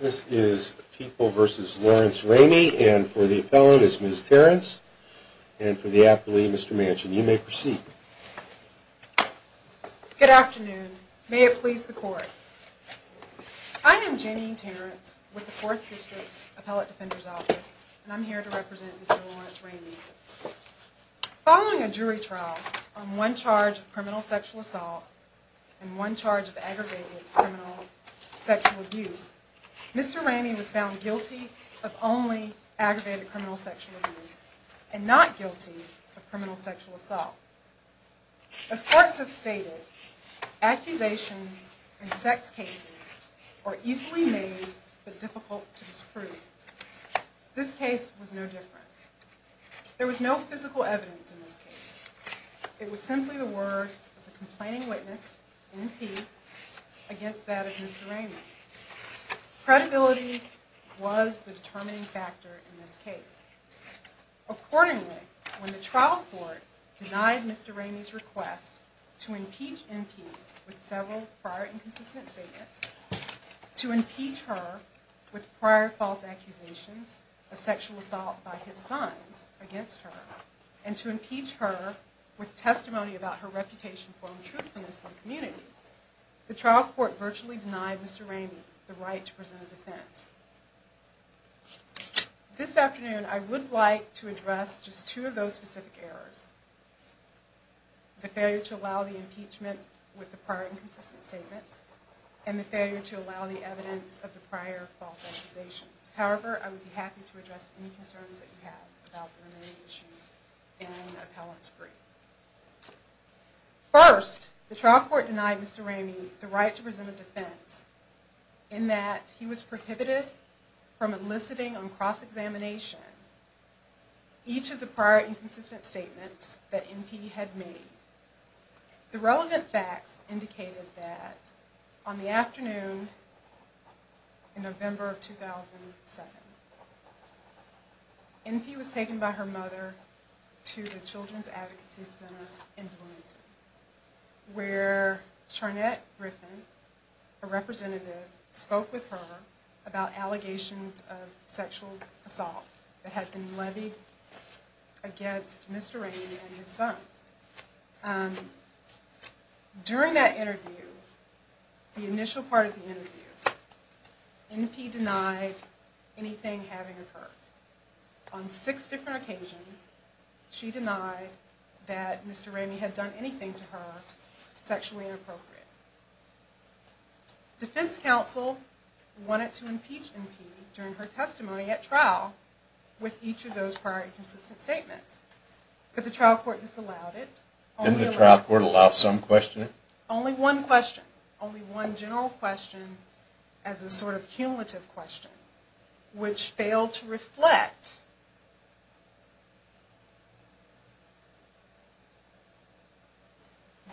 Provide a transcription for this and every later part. This is People v. Lawrence Ramey and for the appellant is Ms. Terrence and for the appellee Mr. Manchin. You may proceed. Good afternoon. May it please the court. I am Janine Terrence with the 4th District Appellate Defender's Office and I'm here to represent Ms. Lawrence Ramey. Following a jury trial on one charge of criminal sexual assault and one charge of aggravated criminal sexual abuse, Mr. Ramey was found guilty of only aggravated criminal sexual abuse and not guilty of criminal sexual assault. As courts have stated, accusations in sex cases are easily made but difficult to disprove. This case was no different. There was no physical evidence in this case. It was simply the word of the complaining witness, an MP, against that of Mr. Ramey. Credibility was the determining factor in this case. Accordingly, when the trial court denied Mr. Ramey's request to impeach MP with several prior inconsistent statements, to impeach her with prior false accusations of sexual assault by his sons against her, and to impeach her with testimony about her reputation for untruthfulness in the community, the trial court virtually denied Mr. Ramey the right to present a defense. This afternoon, I would like to address just two of those specific errors. The failure to allow the impeachment with the prior inconsistent statements and the failure to allow the evidence of the prior false accusations. However, I would be happy to address any concerns that you have about the remaining issues in the appellant's brief. First, the trial court denied Mr. Ramey the right to present a defense in that he was prohibited from eliciting on cross-examination each of the prior inconsistent statements that MP had made. The relevant facts indicated that on the afternoon in November of 2007, MP was taken by her mother to the Children's Advocacy Center in Bloomington, where Charnette Griffin, a representative, spoke with her about allegations of sexual assault that had been levied against Mr. Ramey and his sons. During that interview, the initial part of the interview, MP denied anything having occurred. On six different occasions, she denied that Mr. Ramey had done anything to her sexually inappropriate. Defense counsel wanted to impeach MP during her testimony at trial with each of those prior inconsistent statements, but the trial court disallowed it. Didn't the trial court allow some questioning? Only one question. Only one general question as a sort of cumulative question, which failed to reflect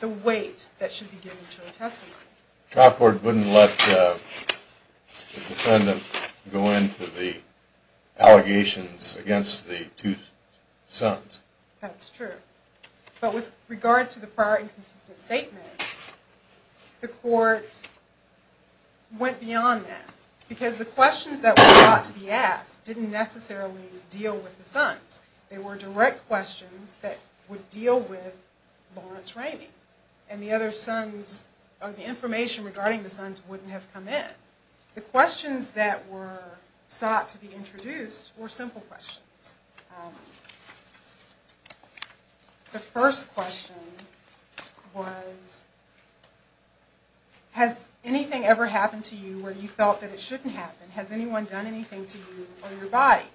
the weight that should be given to a testimony. The trial court wouldn't let the defendant go into the allegations against the two sons. That's true. But with regard to the prior inconsistent statements, the court went beyond that, because the questions that were thought to be asked didn't necessarily deal with the sons. They were direct questions that would deal with Lawrence Ramey, and the other sons, or the information regarding the sons wouldn't have come in. The questions that were sought to be introduced were simple questions. The first question was, has anything ever happened to you where you felt that it shouldn't happen? Has anyone done anything to you or your body?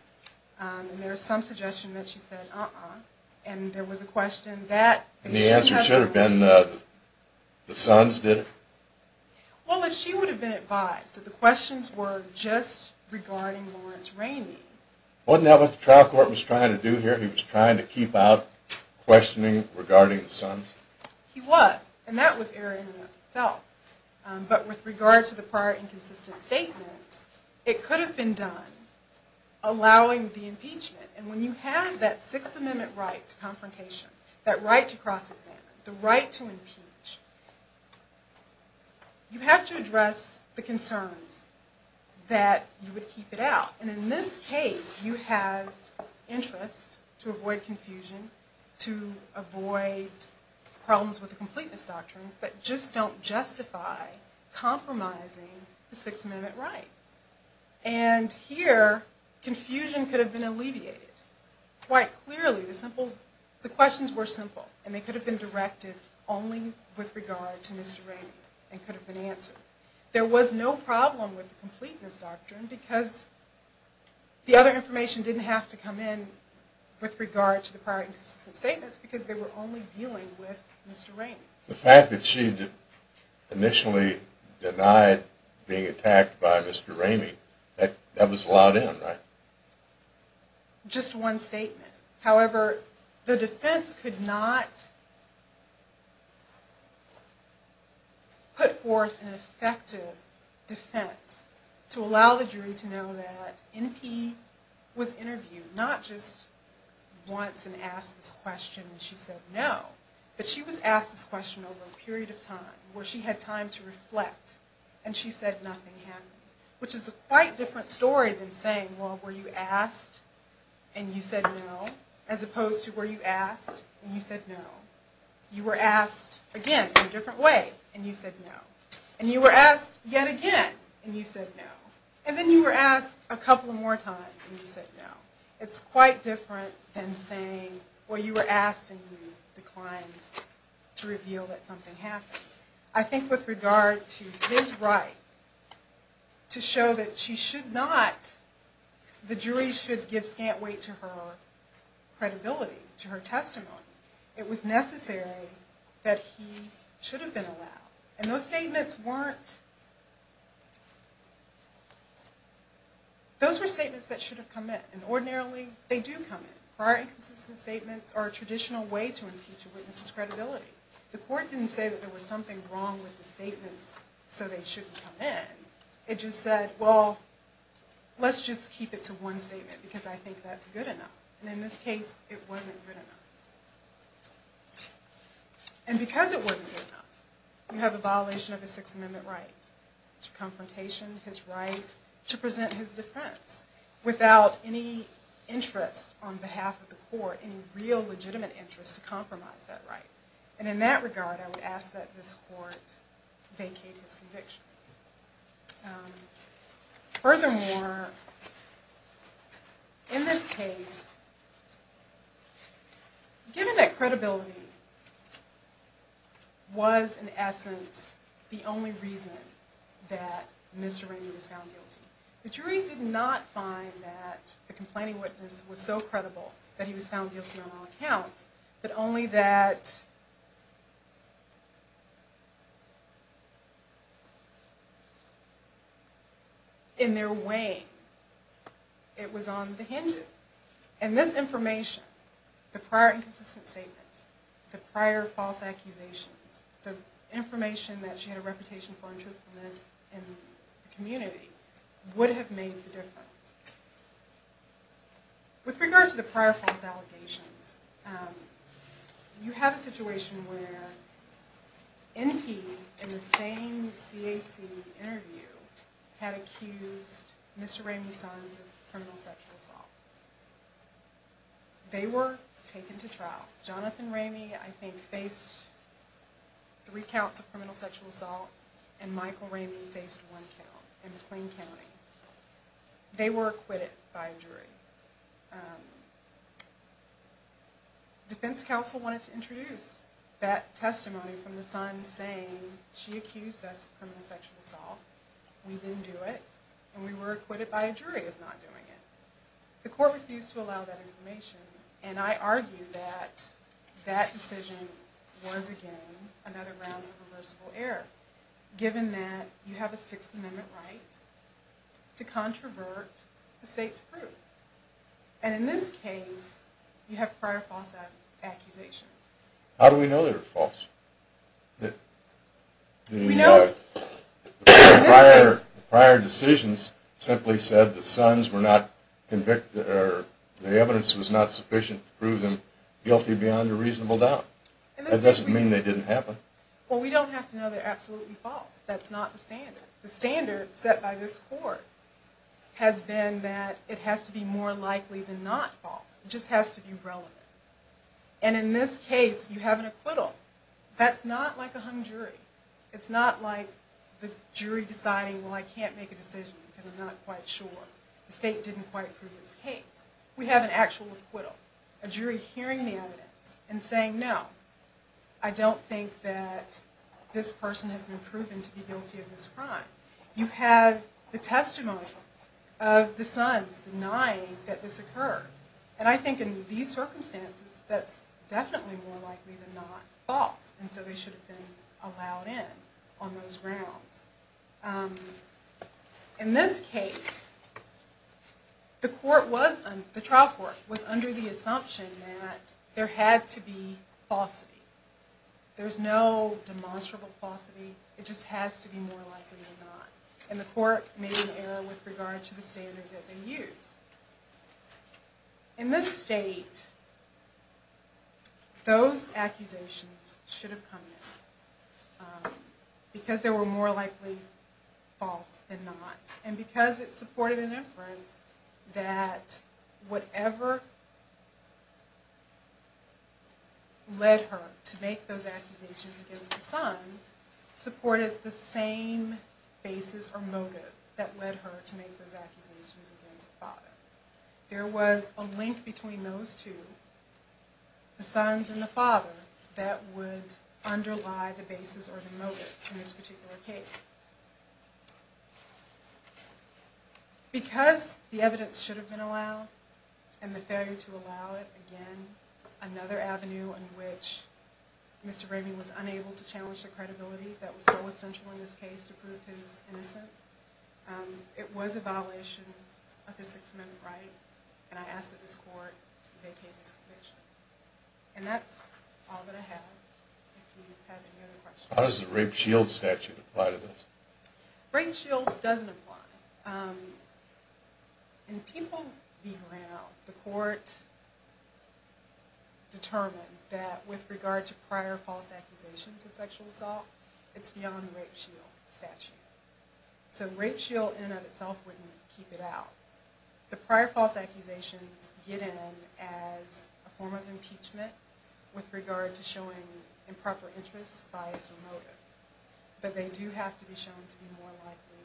And there was some suggestion that she said, uh-uh. And there was a question that... And the answer should have been, the sons did it? Well, if she would have been advised that the questions were just regarding Lawrence Ramey... Wasn't that what the trial court was trying to do here? He was trying to keep out questioning regarding the sons? He was. And that was Aaron himself. But with regard to the prior inconsistent statements, it could have been done, allowing the impeachment. And when you have that Sixth Amendment right to confrontation, that right to cross-examine, the right to impeach, you have to address the concerns that you would keep it out. And in this case, you have interest to avoid confusion, to avoid problems with the completeness doctrines that just don't justify compromising the Sixth Amendment right. And here, confusion could have been alleviated. Quite clearly, the questions were simple and they could have been directed only with regard to Mr. Ramey and could have been answered. There was no problem with the completeness doctrine because the other information didn't have to come in with regard to the prior inconsistent statements because they were only dealing with Mr. Ramey. The fact that she'd initially denied being attacked by Mr. Ramey, that was allowed in, right? Just one statement. However, the defense could not put forth an effective defense to allow the jury to know that NP was interviewed. Not just once and asked this question and she said no, but she was asked this question over a period of time where she had time to reflect and she said nothing happened. Which is a quite different story than saying, well, were you asked and you said no as opposed to were you asked and you said no. You were asked again in a different way and you said no. And you were asked yet again and you said no. And then you were asked a couple more times and you said no. It's quite different than saying, well, you were asked and you declined to reveal that something happened. I think with regard to his right to show that she should not, the jury should give scant weight to her credibility, to her testimony. It was necessary that he should have been allowed. And those statements weren't, those were statements that should have come in. And ordinarily they do come in. Prior inconsistent statements are a traditional way to impeach a witness's credibility. The court didn't say that there was something wrong with the statements so they shouldn't come in. It just said, well, let's just keep it to one statement because I think that's good enough. And in this case it wasn't good enough. And because it wasn't good enough, you have a violation of a Sixth Amendment right to confrontation, his right to present his defense without any interest on behalf of the court, without any real legitimate interest to compromise that right. And in that regard I would ask that this court vacate his conviction. Furthermore, in this case, given that credibility was in essence the only reason that Mr. Rainey was found guilty, the jury did not find that the complaining witness was so credible that he was found guilty on all accounts, but only that in their way it was on the hinge. And this information, the prior inconsistent statements, the prior false accusations, the information that she had a reputation for untruthfulness in the community would have made the difference. With regard to the prior false allegations, you have a situation where Enke, in the same CAC interview, had accused Mr. Rainey's sons of criminal sexual assault. They were taken to trial. Jonathan Rainey, I think, faced three counts of criminal sexual assault and Michael Rainey faced one count in McLean County. They were acquitted by a jury. Defense counsel wanted to introduce that testimony from the son saying she accused us of criminal sexual assault, we didn't do it, and we were acquitted by a jury of not doing it. The court refused to allow that information, and I argue that that decision was, again, another round of reversible error, given that you have a Sixth Amendment right to controvert the state's proof. And in this case, you have prior false accusations. How do we know they were false? The prior decisions simply said the sons were not convicted, or the evidence was not sufficient to prove them guilty beyond a reasonable doubt. That doesn't mean they didn't happen. Well, we don't have to know they're absolutely false. That's not the standard. The standard set by this court has been that it has to be more likely than not false. It just has to be relevant. And in this case, you have an acquittal. That's not like a hung jury. It's not like the jury deciding, well, I can't make a decision because I'm not quite sure. The state didn't quite prove its case. We have an actual acquittal. A jury hearing the evidence and saying, no, I don't think that this person has been proven to be guilty of this crime. You have the testimony of the sons denying that this occurred. And I think in these circumstances, that's definitely more likely than not false. And so they should have been allowed in on those grounds. In this case, the trial court was under the assumption that there had to be falsity. There's no demonstrable falsity. It just has to be more likely than not. And the court made an error with regard to the standard that they used. In this state, those accusations should have come in because they were more likely false than not. And because it supported an inference that whatever led her to make those accusations against the sons supported the same basis or motive that led her to make those accusations against the father. There was a link between those two, the sons and the father, that would underlie the basis or the motive in this particular case. Because the evidence should have been allowed and the failure to allow it, again, another avenue in which Mr. Bramey was unable to challenge the credibility that was so essential in this case to prove his innocence, it was a violation of the Sixth Amendment right. And I ask that this court vacate this conviction. And that's all that I have. If you have any other questions. How does the rape shield statute apply to this? Rape shield doesn't apply. In people v. Brown, the court determined that with regard to prior false accusations of sexual assault, it's beyond the rape shield statute. So rape shield in and of itself wouldn't keep it out. The prior false accusations get in as a form of impeachment with regard to showing improper interest, bias, or motive. But they do have to be shown to be more likely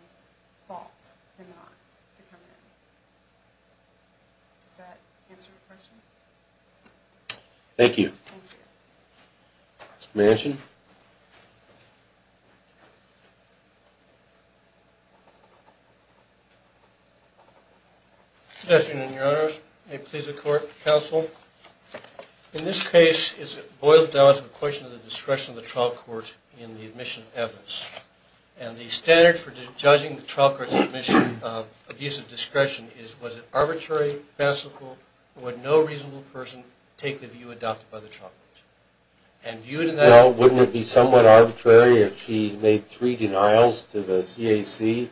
false than not to come in. Does that answer your question? Thank you. Mr. Manchin. Good afternoon, Your Honors. May it please the court, counsel. In this case, it boils down to the question of the discretion of the trial court in the admission of evidence. And the standard for judging the trial court's admission of abuse of discretion is, was it arbitrary, fanciful, or would no reasonable person take the view adopted by the trial court? And viewed in that way. Well, wouldn't it be somewhat arbitrary if she made three denials to the CAC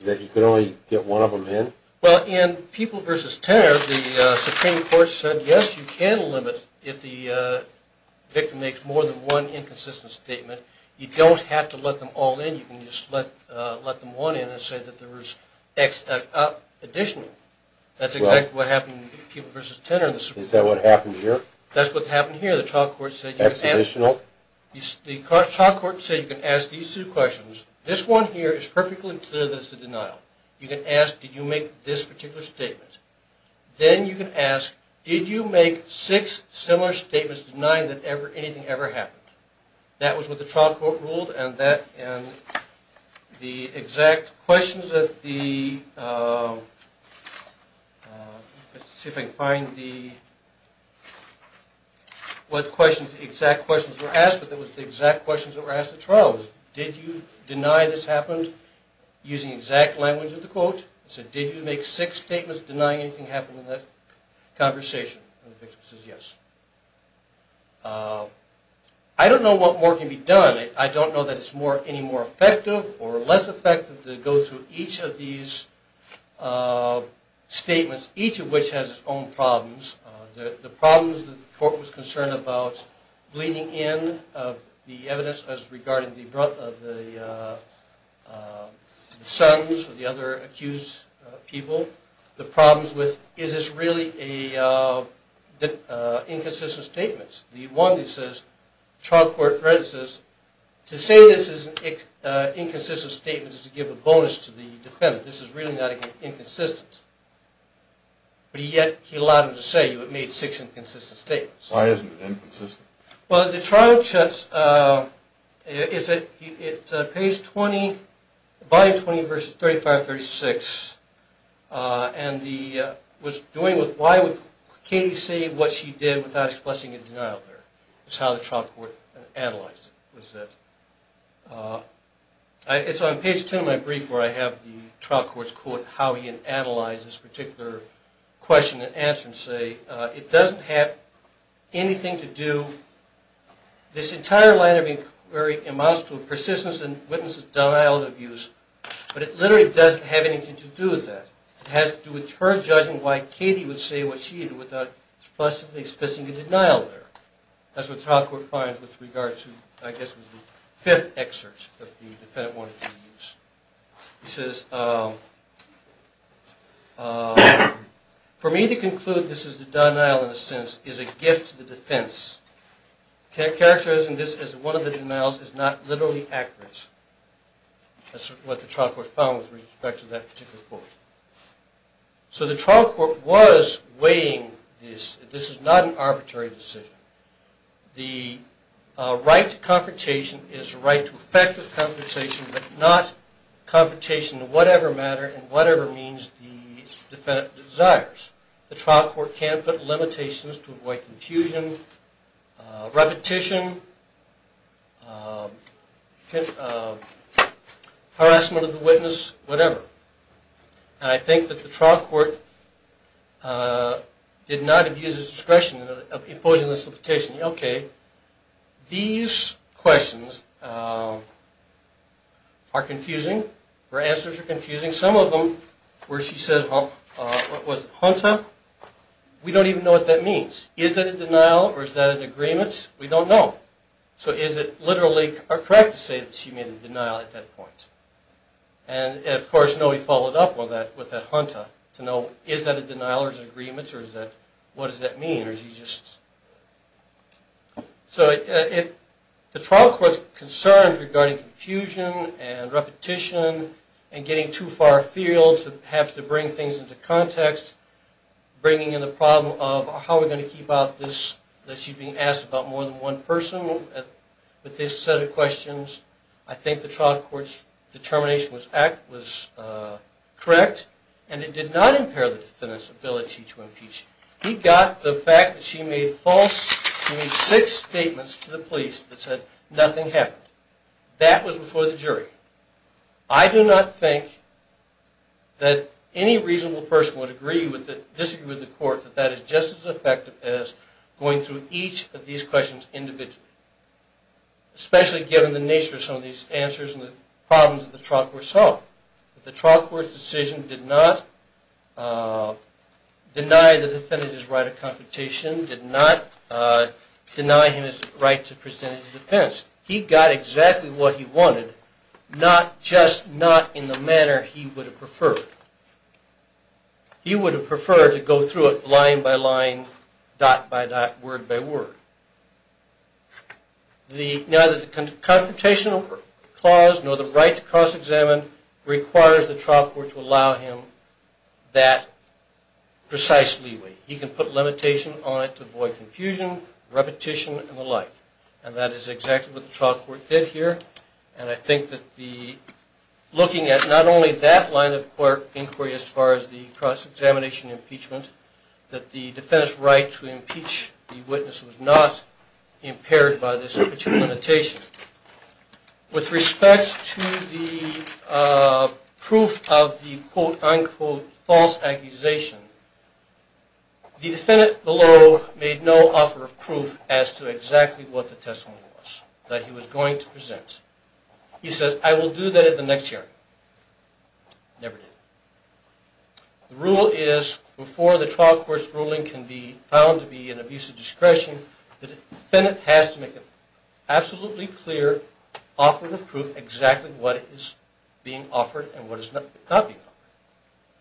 that you could only get one of them in? Well, in people v. Tenor, the Supreme Court said, yes, you can limit if the victim makes more than one inconsistent statement. You don't have to let them all in. You can just let them one in and say that there was X additional. That's exactly what happened in people v. Tenor. Is that what happened here? That's what happened here. The trial court said you can ask these two questions. This one here is perfectly clear that it's a denial. You can ask, did you make this particular statement? Then you can ask, did you make six similar statements denying that anything ever happened? That was what the trial court ruled, and the exact questions that the, let's see if I can find the, what questions, the exact questions were asked, but it was the exact questions that were asked at trial. Did you deny this happened using exact language of the quote? It said, did you make six statements denying anything happened in that conversation? The victim says yes. I don't know what more can be done. I don't know that it's any more effective or less effective to go through each of these statements, each of which has its own problems. The problems that the court was concerned about bleeding in of the evidence as regarding the sons or the other accused people. The problems with, is this really inconsistent statements? The one that says, trial court says, to say this is an inconsistent statement is to give a bonus to the defendant. This is really not inconsistent. But yet he allowed them to say it made six inconsistent statements. Why isn't it inconsistent? Well, the trial judge, it's page 20, volume 20, verses 35-36, and the, was doing with why would Katie say what she did without expressing a denial there. That's how the trial court analyzed it. It's on page 10 of my brief where I have the trial court's quote, how he had analyzed this particular question and answer and say, it doesn't have anything to do, this entire line of inquiry amounts to a persistence in witnesses' denial of abuse, but it literally doesn't have anything to do with that. It has to do with her judging why Katie would say what she did without explicitly expressing a denial there. That's what trial court finds with regards to, I guess, the fifth excerpt that the defendant wanted to use. He says, for me to conclude this is a denial in a sense is a gift to the defense. Characterizing this as one of the denials is not literally accurate. That's what the trial court found with respect to that particular quote. So the trial court was weighing this. This is not an arbitrary decision. The right to confrontation is the right to effective confrontation, but not confrontation in whatever manner and whatever means the defendant desires. The trial court can put limitations to avoid confusion, repetition, harassment of the witness, whatever. And I think that the trial court did not abuse the discretion of imposing this limitation. Okay, these questions are confusing. Her answers are confusing. Some of them where she says, what was it, junta, we don't even know what that means. Is that a denial or is that an agreement? We don't know. So is it literally correct to say that she made a denial at that point? And, of course, nobody followed up with that junta to know is that a denial or is it an agreement or is that, what does that mean? So if the trial court's concerns regarding confusion and repetition and getting too far afield to have to bring things into context, bringing in the problem of how are we going to keep out this, that she's being asked about more than one person with this set of questions, I think the trial court's determination was correct and it did not impair the defendant's ability to impeach. He got the fact that she made six statements to the police that said nothing happened. That was before the jury. I do not think that any reasonable person would disagree with the court that that is just as effective as going through each of these questions individually, especially given the nature of some of these answers and the problems that the trial court solved. The trial court's decision did not deny the defendant his right of confrontation, did not deny him his right to present his defense. He got exactly what he wanted, just not in the manner he would have preferred. He would have preferred to go through it line by line, dot by dot, word by word. Neither the confrontation clause nor the right to cross-examine requires the trial court to allow him that precise leeway. He can put limitation on it to avoid confusion, repetition, and the like. And that is exactly what the trial court did here. And I think that looking at not only that line of inquiry as far as the cross-examination impeachment, that the defendant's right to impeach the witness was not impaired by this particular limitation. With respect to the proof of the quote-unquote false accusation, the defendant below made no offer of proof as to exactly what the testimony was that he was going to present. He says, I will do that at the next hearing. Never did. The rule is, before the trial court's ruling can be found to be an abuse of discretion, the defendant has to make an absolutely clear offer of proof exactly what is being offered and what is not being offered.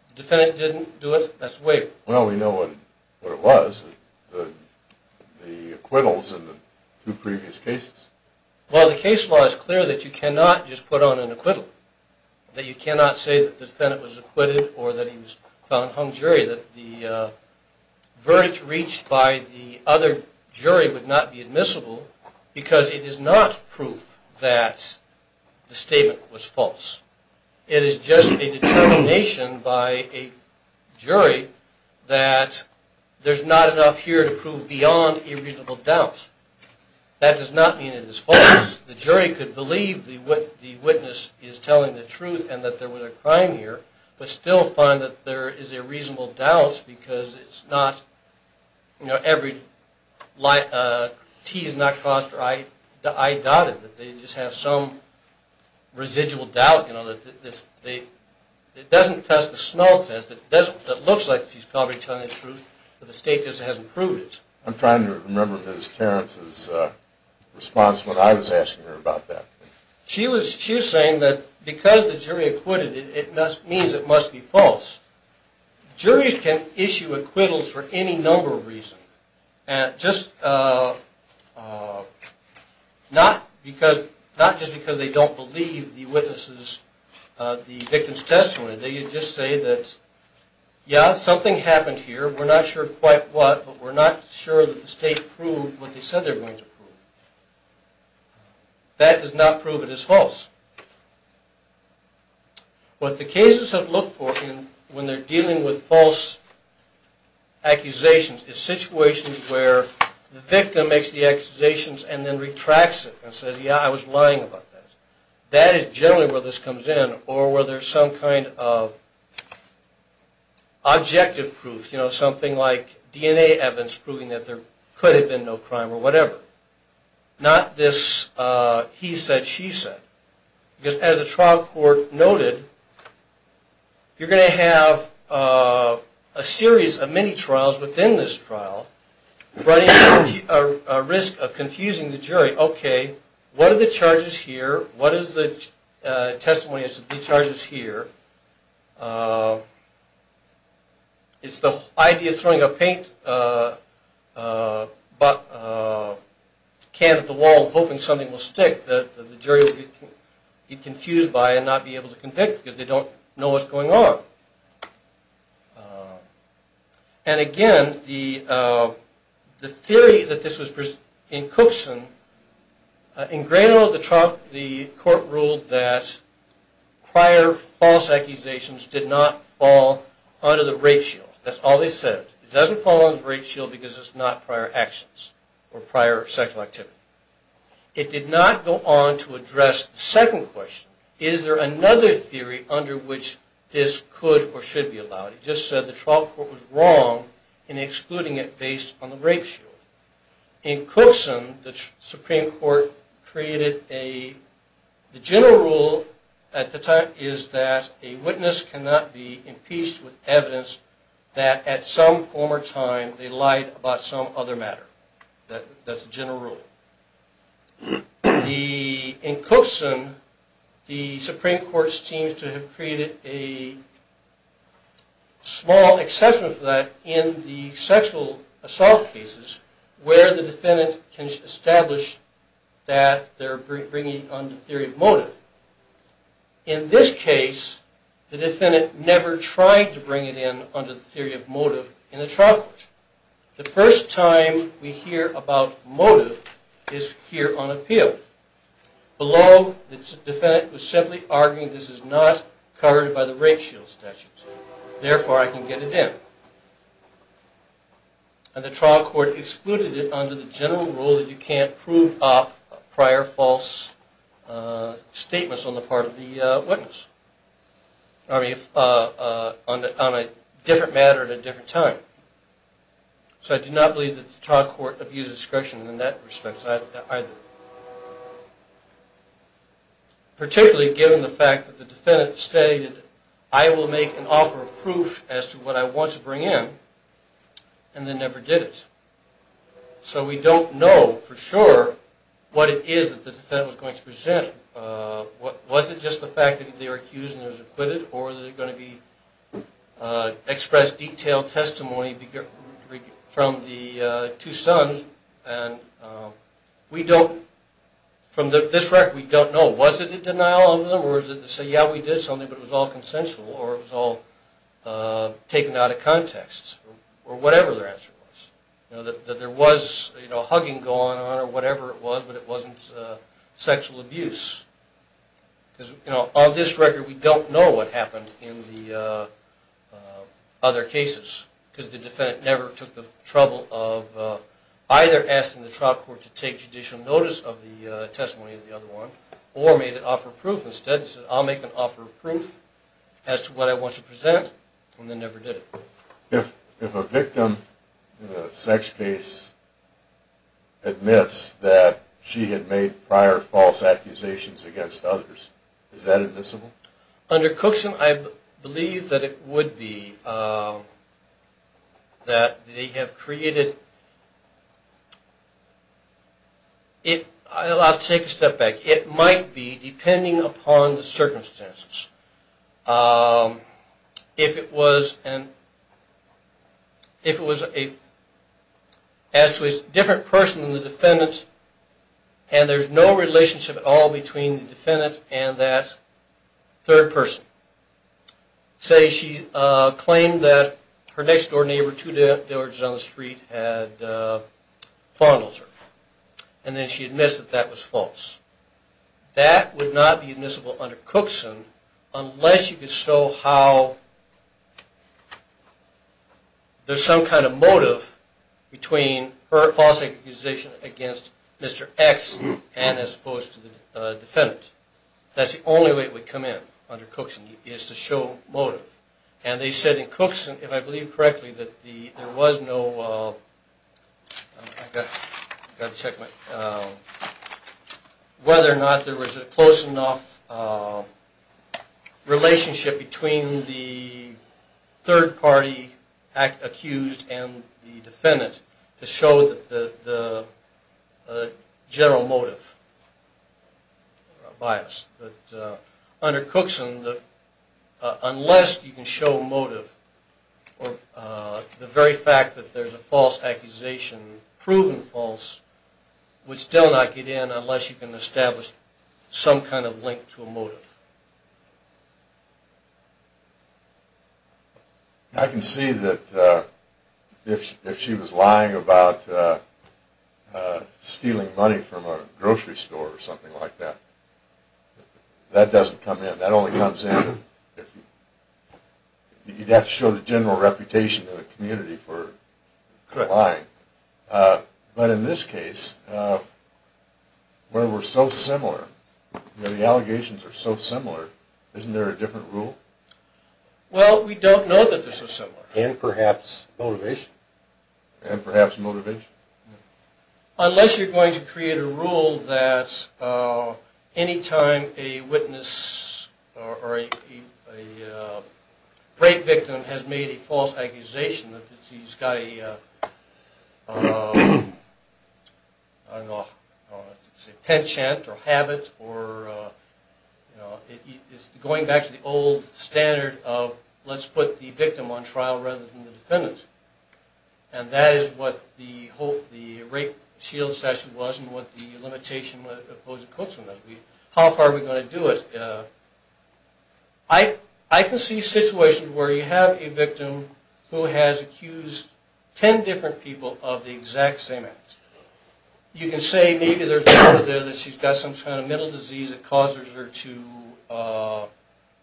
The defendant didn't do it, that's a waiver. Well, we know what it was, the acquittals in the two previous cases. Well, the case law is clear that you cannot just put on an acquittal, that you cannot say that the defendant was acquitted or that he was found hung jury, that the verdict reached by the other jury would not be admissible because it is not proof that the statement was false. It is just a determination by a jury that there's not enough here to prove beyond a reasonable doubt. That does not mean it is false. The jury could believe the witness is telling the truth and that there was a crime here, but still find that there is a reasonable doubt because it's not, you know, every T is not crossed or I dotted. They just have some residual doubt, you know. It doesn't test the smell test. It looks like he's probably telling the truth, but the state just hasn't proved it. I'm trying to remember Ms. Terrence's response when I was asking her about that. She was saying that because the jury acquitted it, it means it must be false. Juries can issue acquittals for any number of reasons, just not just because they don't believe the witness's, the victim's testimony. They can just say that, yeah, something happened here, we're not sure quite what, but we're not sure that the state proved what they said they were going to prove. That does not prove it is false. What the cases have looked for when they're dealing with false accusations is situations where the victim makes the accusations and then retracts it and says, yeah, I was lying about that. That is generally where this comes in or where there's some kind of objective proof, you know, like DNA evidence proving that there could have been no crime or whatever. Not this he said, she said. Because as the trial court noted, you're going to have a series of many trials within this trial running a risk of confusing the jury. Okay, what are the charges here? What is the testimony as to the charges here? It's the idea of throwing a paint can at the wall hoping something will stick that the jury will be confused by and not be able to convict because they don't know what's going on. And again, the theory that this was in Cookson, in Grano, the court ruled that prior false accusations did not fall under the rape shield. That's all they said. It doesn't fall under the rape shield because it's not prior actions or prior sexual activity. It did not go on to address the second question. Is there another theory under which this could or should be allowed? It just said the trial court was wrong in excluding it based on the rape shield. In Cookson, the Supreme Court created a, the general rule at the time is that a witness cannot be impeached with evidence that at some former time they lied about some other matter. That's the general rule. In Cookson, the Supreme Court seems to have created a small exception for that in the sexual assault cases. Where the defendant can establish that they're bringing it under the theory of motive. In this case, the defendant never tried to bring it in under the theory of motive in the trial court. The first time we hear about motive is here on appeal. Below, the defendant was simply arguing this is not covered by the rape shield statute. Therefore, I can get it in. And the trial court excluded it under the general rule that you can't prove prior false statements on the part of the witness. On a different matter at a different time. So I do not believe that the trial court abused discretion in that respect either. Particularly given the fact that the defendant stated I will make an offer of proof as to what I want to bring in. And then never did it. So we don't know for sure what it is that the defendant was going to present. Was it just the fact that they were accused and they were acquitted? Or was it going to be expressed detailed testimony from the two sons? From this record, we don't know. Was it a denial of them? Or was it to say, yeah, we did something, but it was all consensual? Or it was all taken out of context? Or whatever their answer was. That there was hugging going on or whatever it was, but it wasn't sexual abuse. Because on this record, we don't know what happened in the other cases. Because the defendant never took the trouble of either asking the trial court to take judicial notice of the testimony of the other one. Or made an offer of proof. Instead, said I'll make an offer of proof as to what I want to present. And then never did it. If a victim in a sex case admits that she had made prior false accusations against others, is that admissible? Under Cookson, I believe that it would be. That they have created. I'll take a step back. It might be, depending upon the circumstances. If it was as to a different person than the defendant. And there's no relationship at all between the defendant and that third person. Say she claimed that her next door neighbor, two doors down the street, had fondled her. And then she admits that that was false. That would not be admissible under Cookson. Unless you could show how there's some kind of motive between her false accusation against Mr. X. And as opposed to the defendant. That's the only way it would come in under Cookson. Is to show motive. And they said in Cookson, if I believe correctly. That there was no. I've got to check my. Whether or not there was a close enough relationship between the third party accused and the defendant. To show the general motive. Bias. Under Cookson. Unless you can show motive. The very fact that there's a false accusation. Proven false. Would still not get in unless you can establish some kind of link to a motive. I can see that. If she was lying about stealing money from a grocery store or something like that. That doesn't come in. That only comes in. You'd have to show the general reputation of the community for lying. But in this case. Where we're so similar. The allegations are so similar. Isn't there a different rule? Well we don't know that they're so similar. And perhaps motivation. And perhaps motivation. Unless you're going to create a rule. That any time a witness or a rape victim has made a false accusation. That he's got a penchant or habit. It's going back to the old standard of. Let's put the victim on trial rather than the defendant. And that is what the rape shield statute was. And what the limitation with opposing Cookson was. How far are we going to do it? I can see situations where you have a victim. Who has accused ten different people of the exact same act. You can say maybe there's a woman there. That she's got some kind of mental disease. That causes her to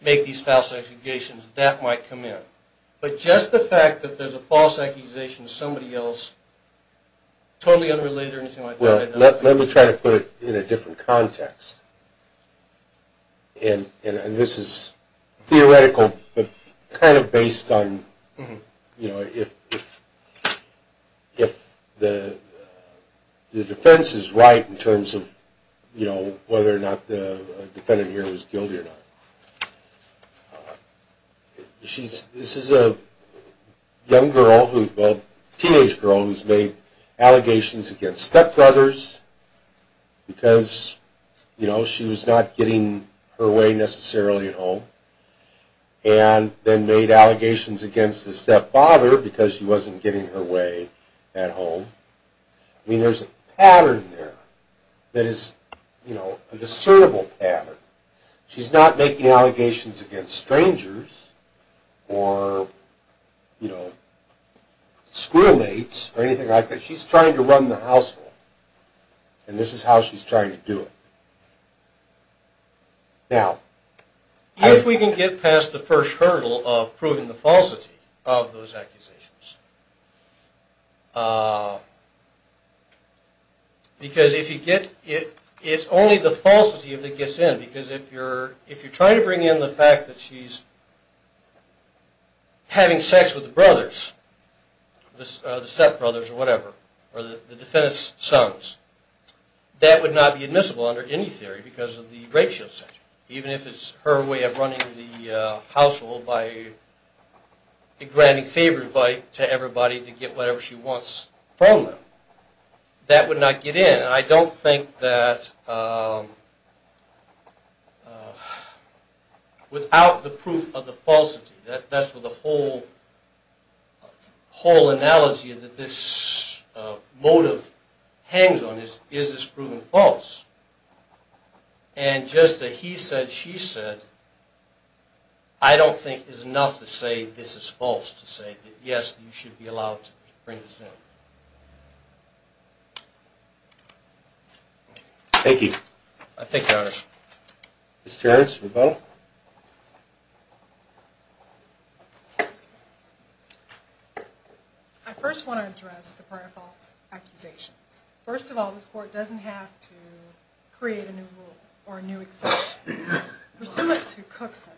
make these false accusations. That might come in. But just the fact that there's a false accusation of somebody else. Totally unrelated or anything like that. Let me try to put it in a different context. And this is theoretical. But kind of based on if the defense is right. In terms of whether or not the defendant here was guilty or not. This is a young girl. A teenage girl who's made allegations against stepbrothers. Because, you know, she was not getting her way necessarily at home. And then made allegations against the stepfather. Because she wasn't getting her way at home. I mean there's a pattern there that is, you know, a discernible pattern. She's not making allegations against strangers. Or, you know, schoolmates or anything like that. But she's trying to run the household. And this is how she's trying to do it. Now, if we can get past the first hurdle of proving the falsity of those accusations. Because if you get it, it's only the falsity that gets in. Because if you're trying to bring in the fact that she's having sex with the brothers. The stepbrothers or whatever. Or the defendant's sons. That would not be admissible under any theory because of the racial center. Even if it's her way of running the household by granting favors to everybody to get whatever she wants from them. That would not get in. And I don't think that without the proof of the falsity. That's what the whole analogy that this motive hangs on is. Is this proven false? And just a he said, she said. I don't think is enough to say this is false. To say that yes, you should be allowed to bring this in. Thank you. Thank you, Your Honor. Ms. Terrence, rebuttal. I first want to address the prior false accusations. First of all, this court doesn't have to create a new rule or a new exception. Pursuant to Cookson,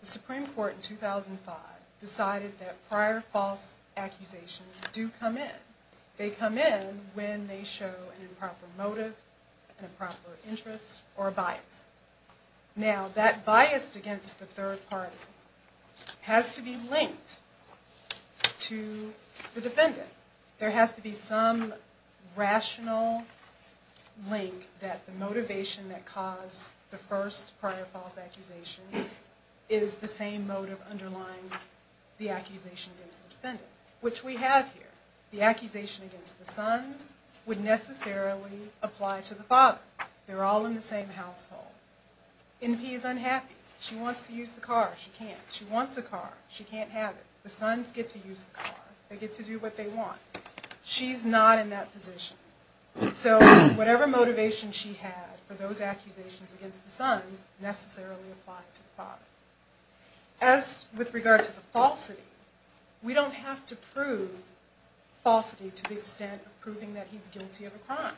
the Supreme Court in 2005 decided that prior false accusations do come in. They come in when they show an improper motive, an improper interest, or a bias. Now, that bias against the third party has to be linked to the defendant. There has to be some rational link that the motivation that caused the first prior false accusation is the same motive underlying the accusation against the defendant. Which we have here. The accusation against the sons would necessarily apply to the father. They're all in the same household. NP is unhappy. She wants to use the car. She can't. She wants a car. She can't have it. The sons get to use the car. They get to do what they want. She's not in that position. So, whatever motivation she had for those accusations against the sons necessarily applied to the father. As with regard to the falsity, we don't have to prove falsity to the extent of proving that he's guilty of a crime.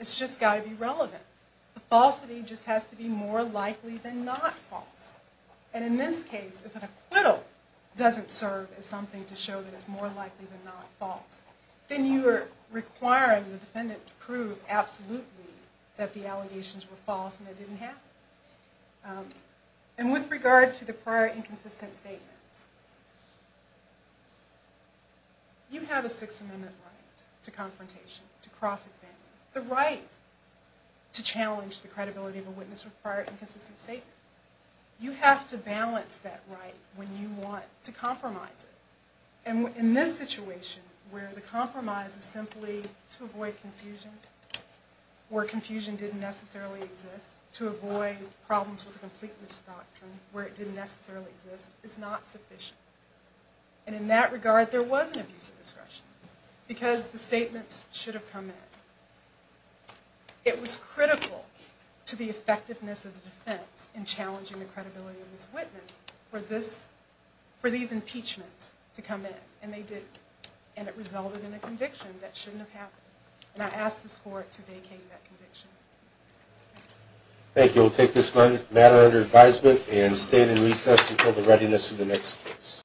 It's just got to be relevant. The falsity just has to be more likely than not false. And in this case, if an acquittal doesn't serve as something to show that it's more likely than not false, then you are requiring the defendant to prove absolutely that the allegations were false and it didn't happen. And with regard to the prior inconsistent statements, you have a Sixth Amendment right to confrontation, to cross-examining, the right to challenge the credibility of a witness with prior inconsistent statements. You have to balance that right when you want to compromise it. And in this situation, where the compromise is simply to avoid confusion, where confusion didn't necessarily exist, to avoid problems with the completeness doctrine, where it didn't necessarily exist, is not sufficient. And in that regard, there was an abuse of discretion because the statements should have come in. It was critical to the effectiveness of the defense in challenging the credibility of this witness for these impeachments to come in, and they didn't. And it resulted in a conviction that shouldn't have happened. And I ask this Court to vacate that conviction. Thank you. We'll take this matter under advisement and stand in recess until the readiness of the next case.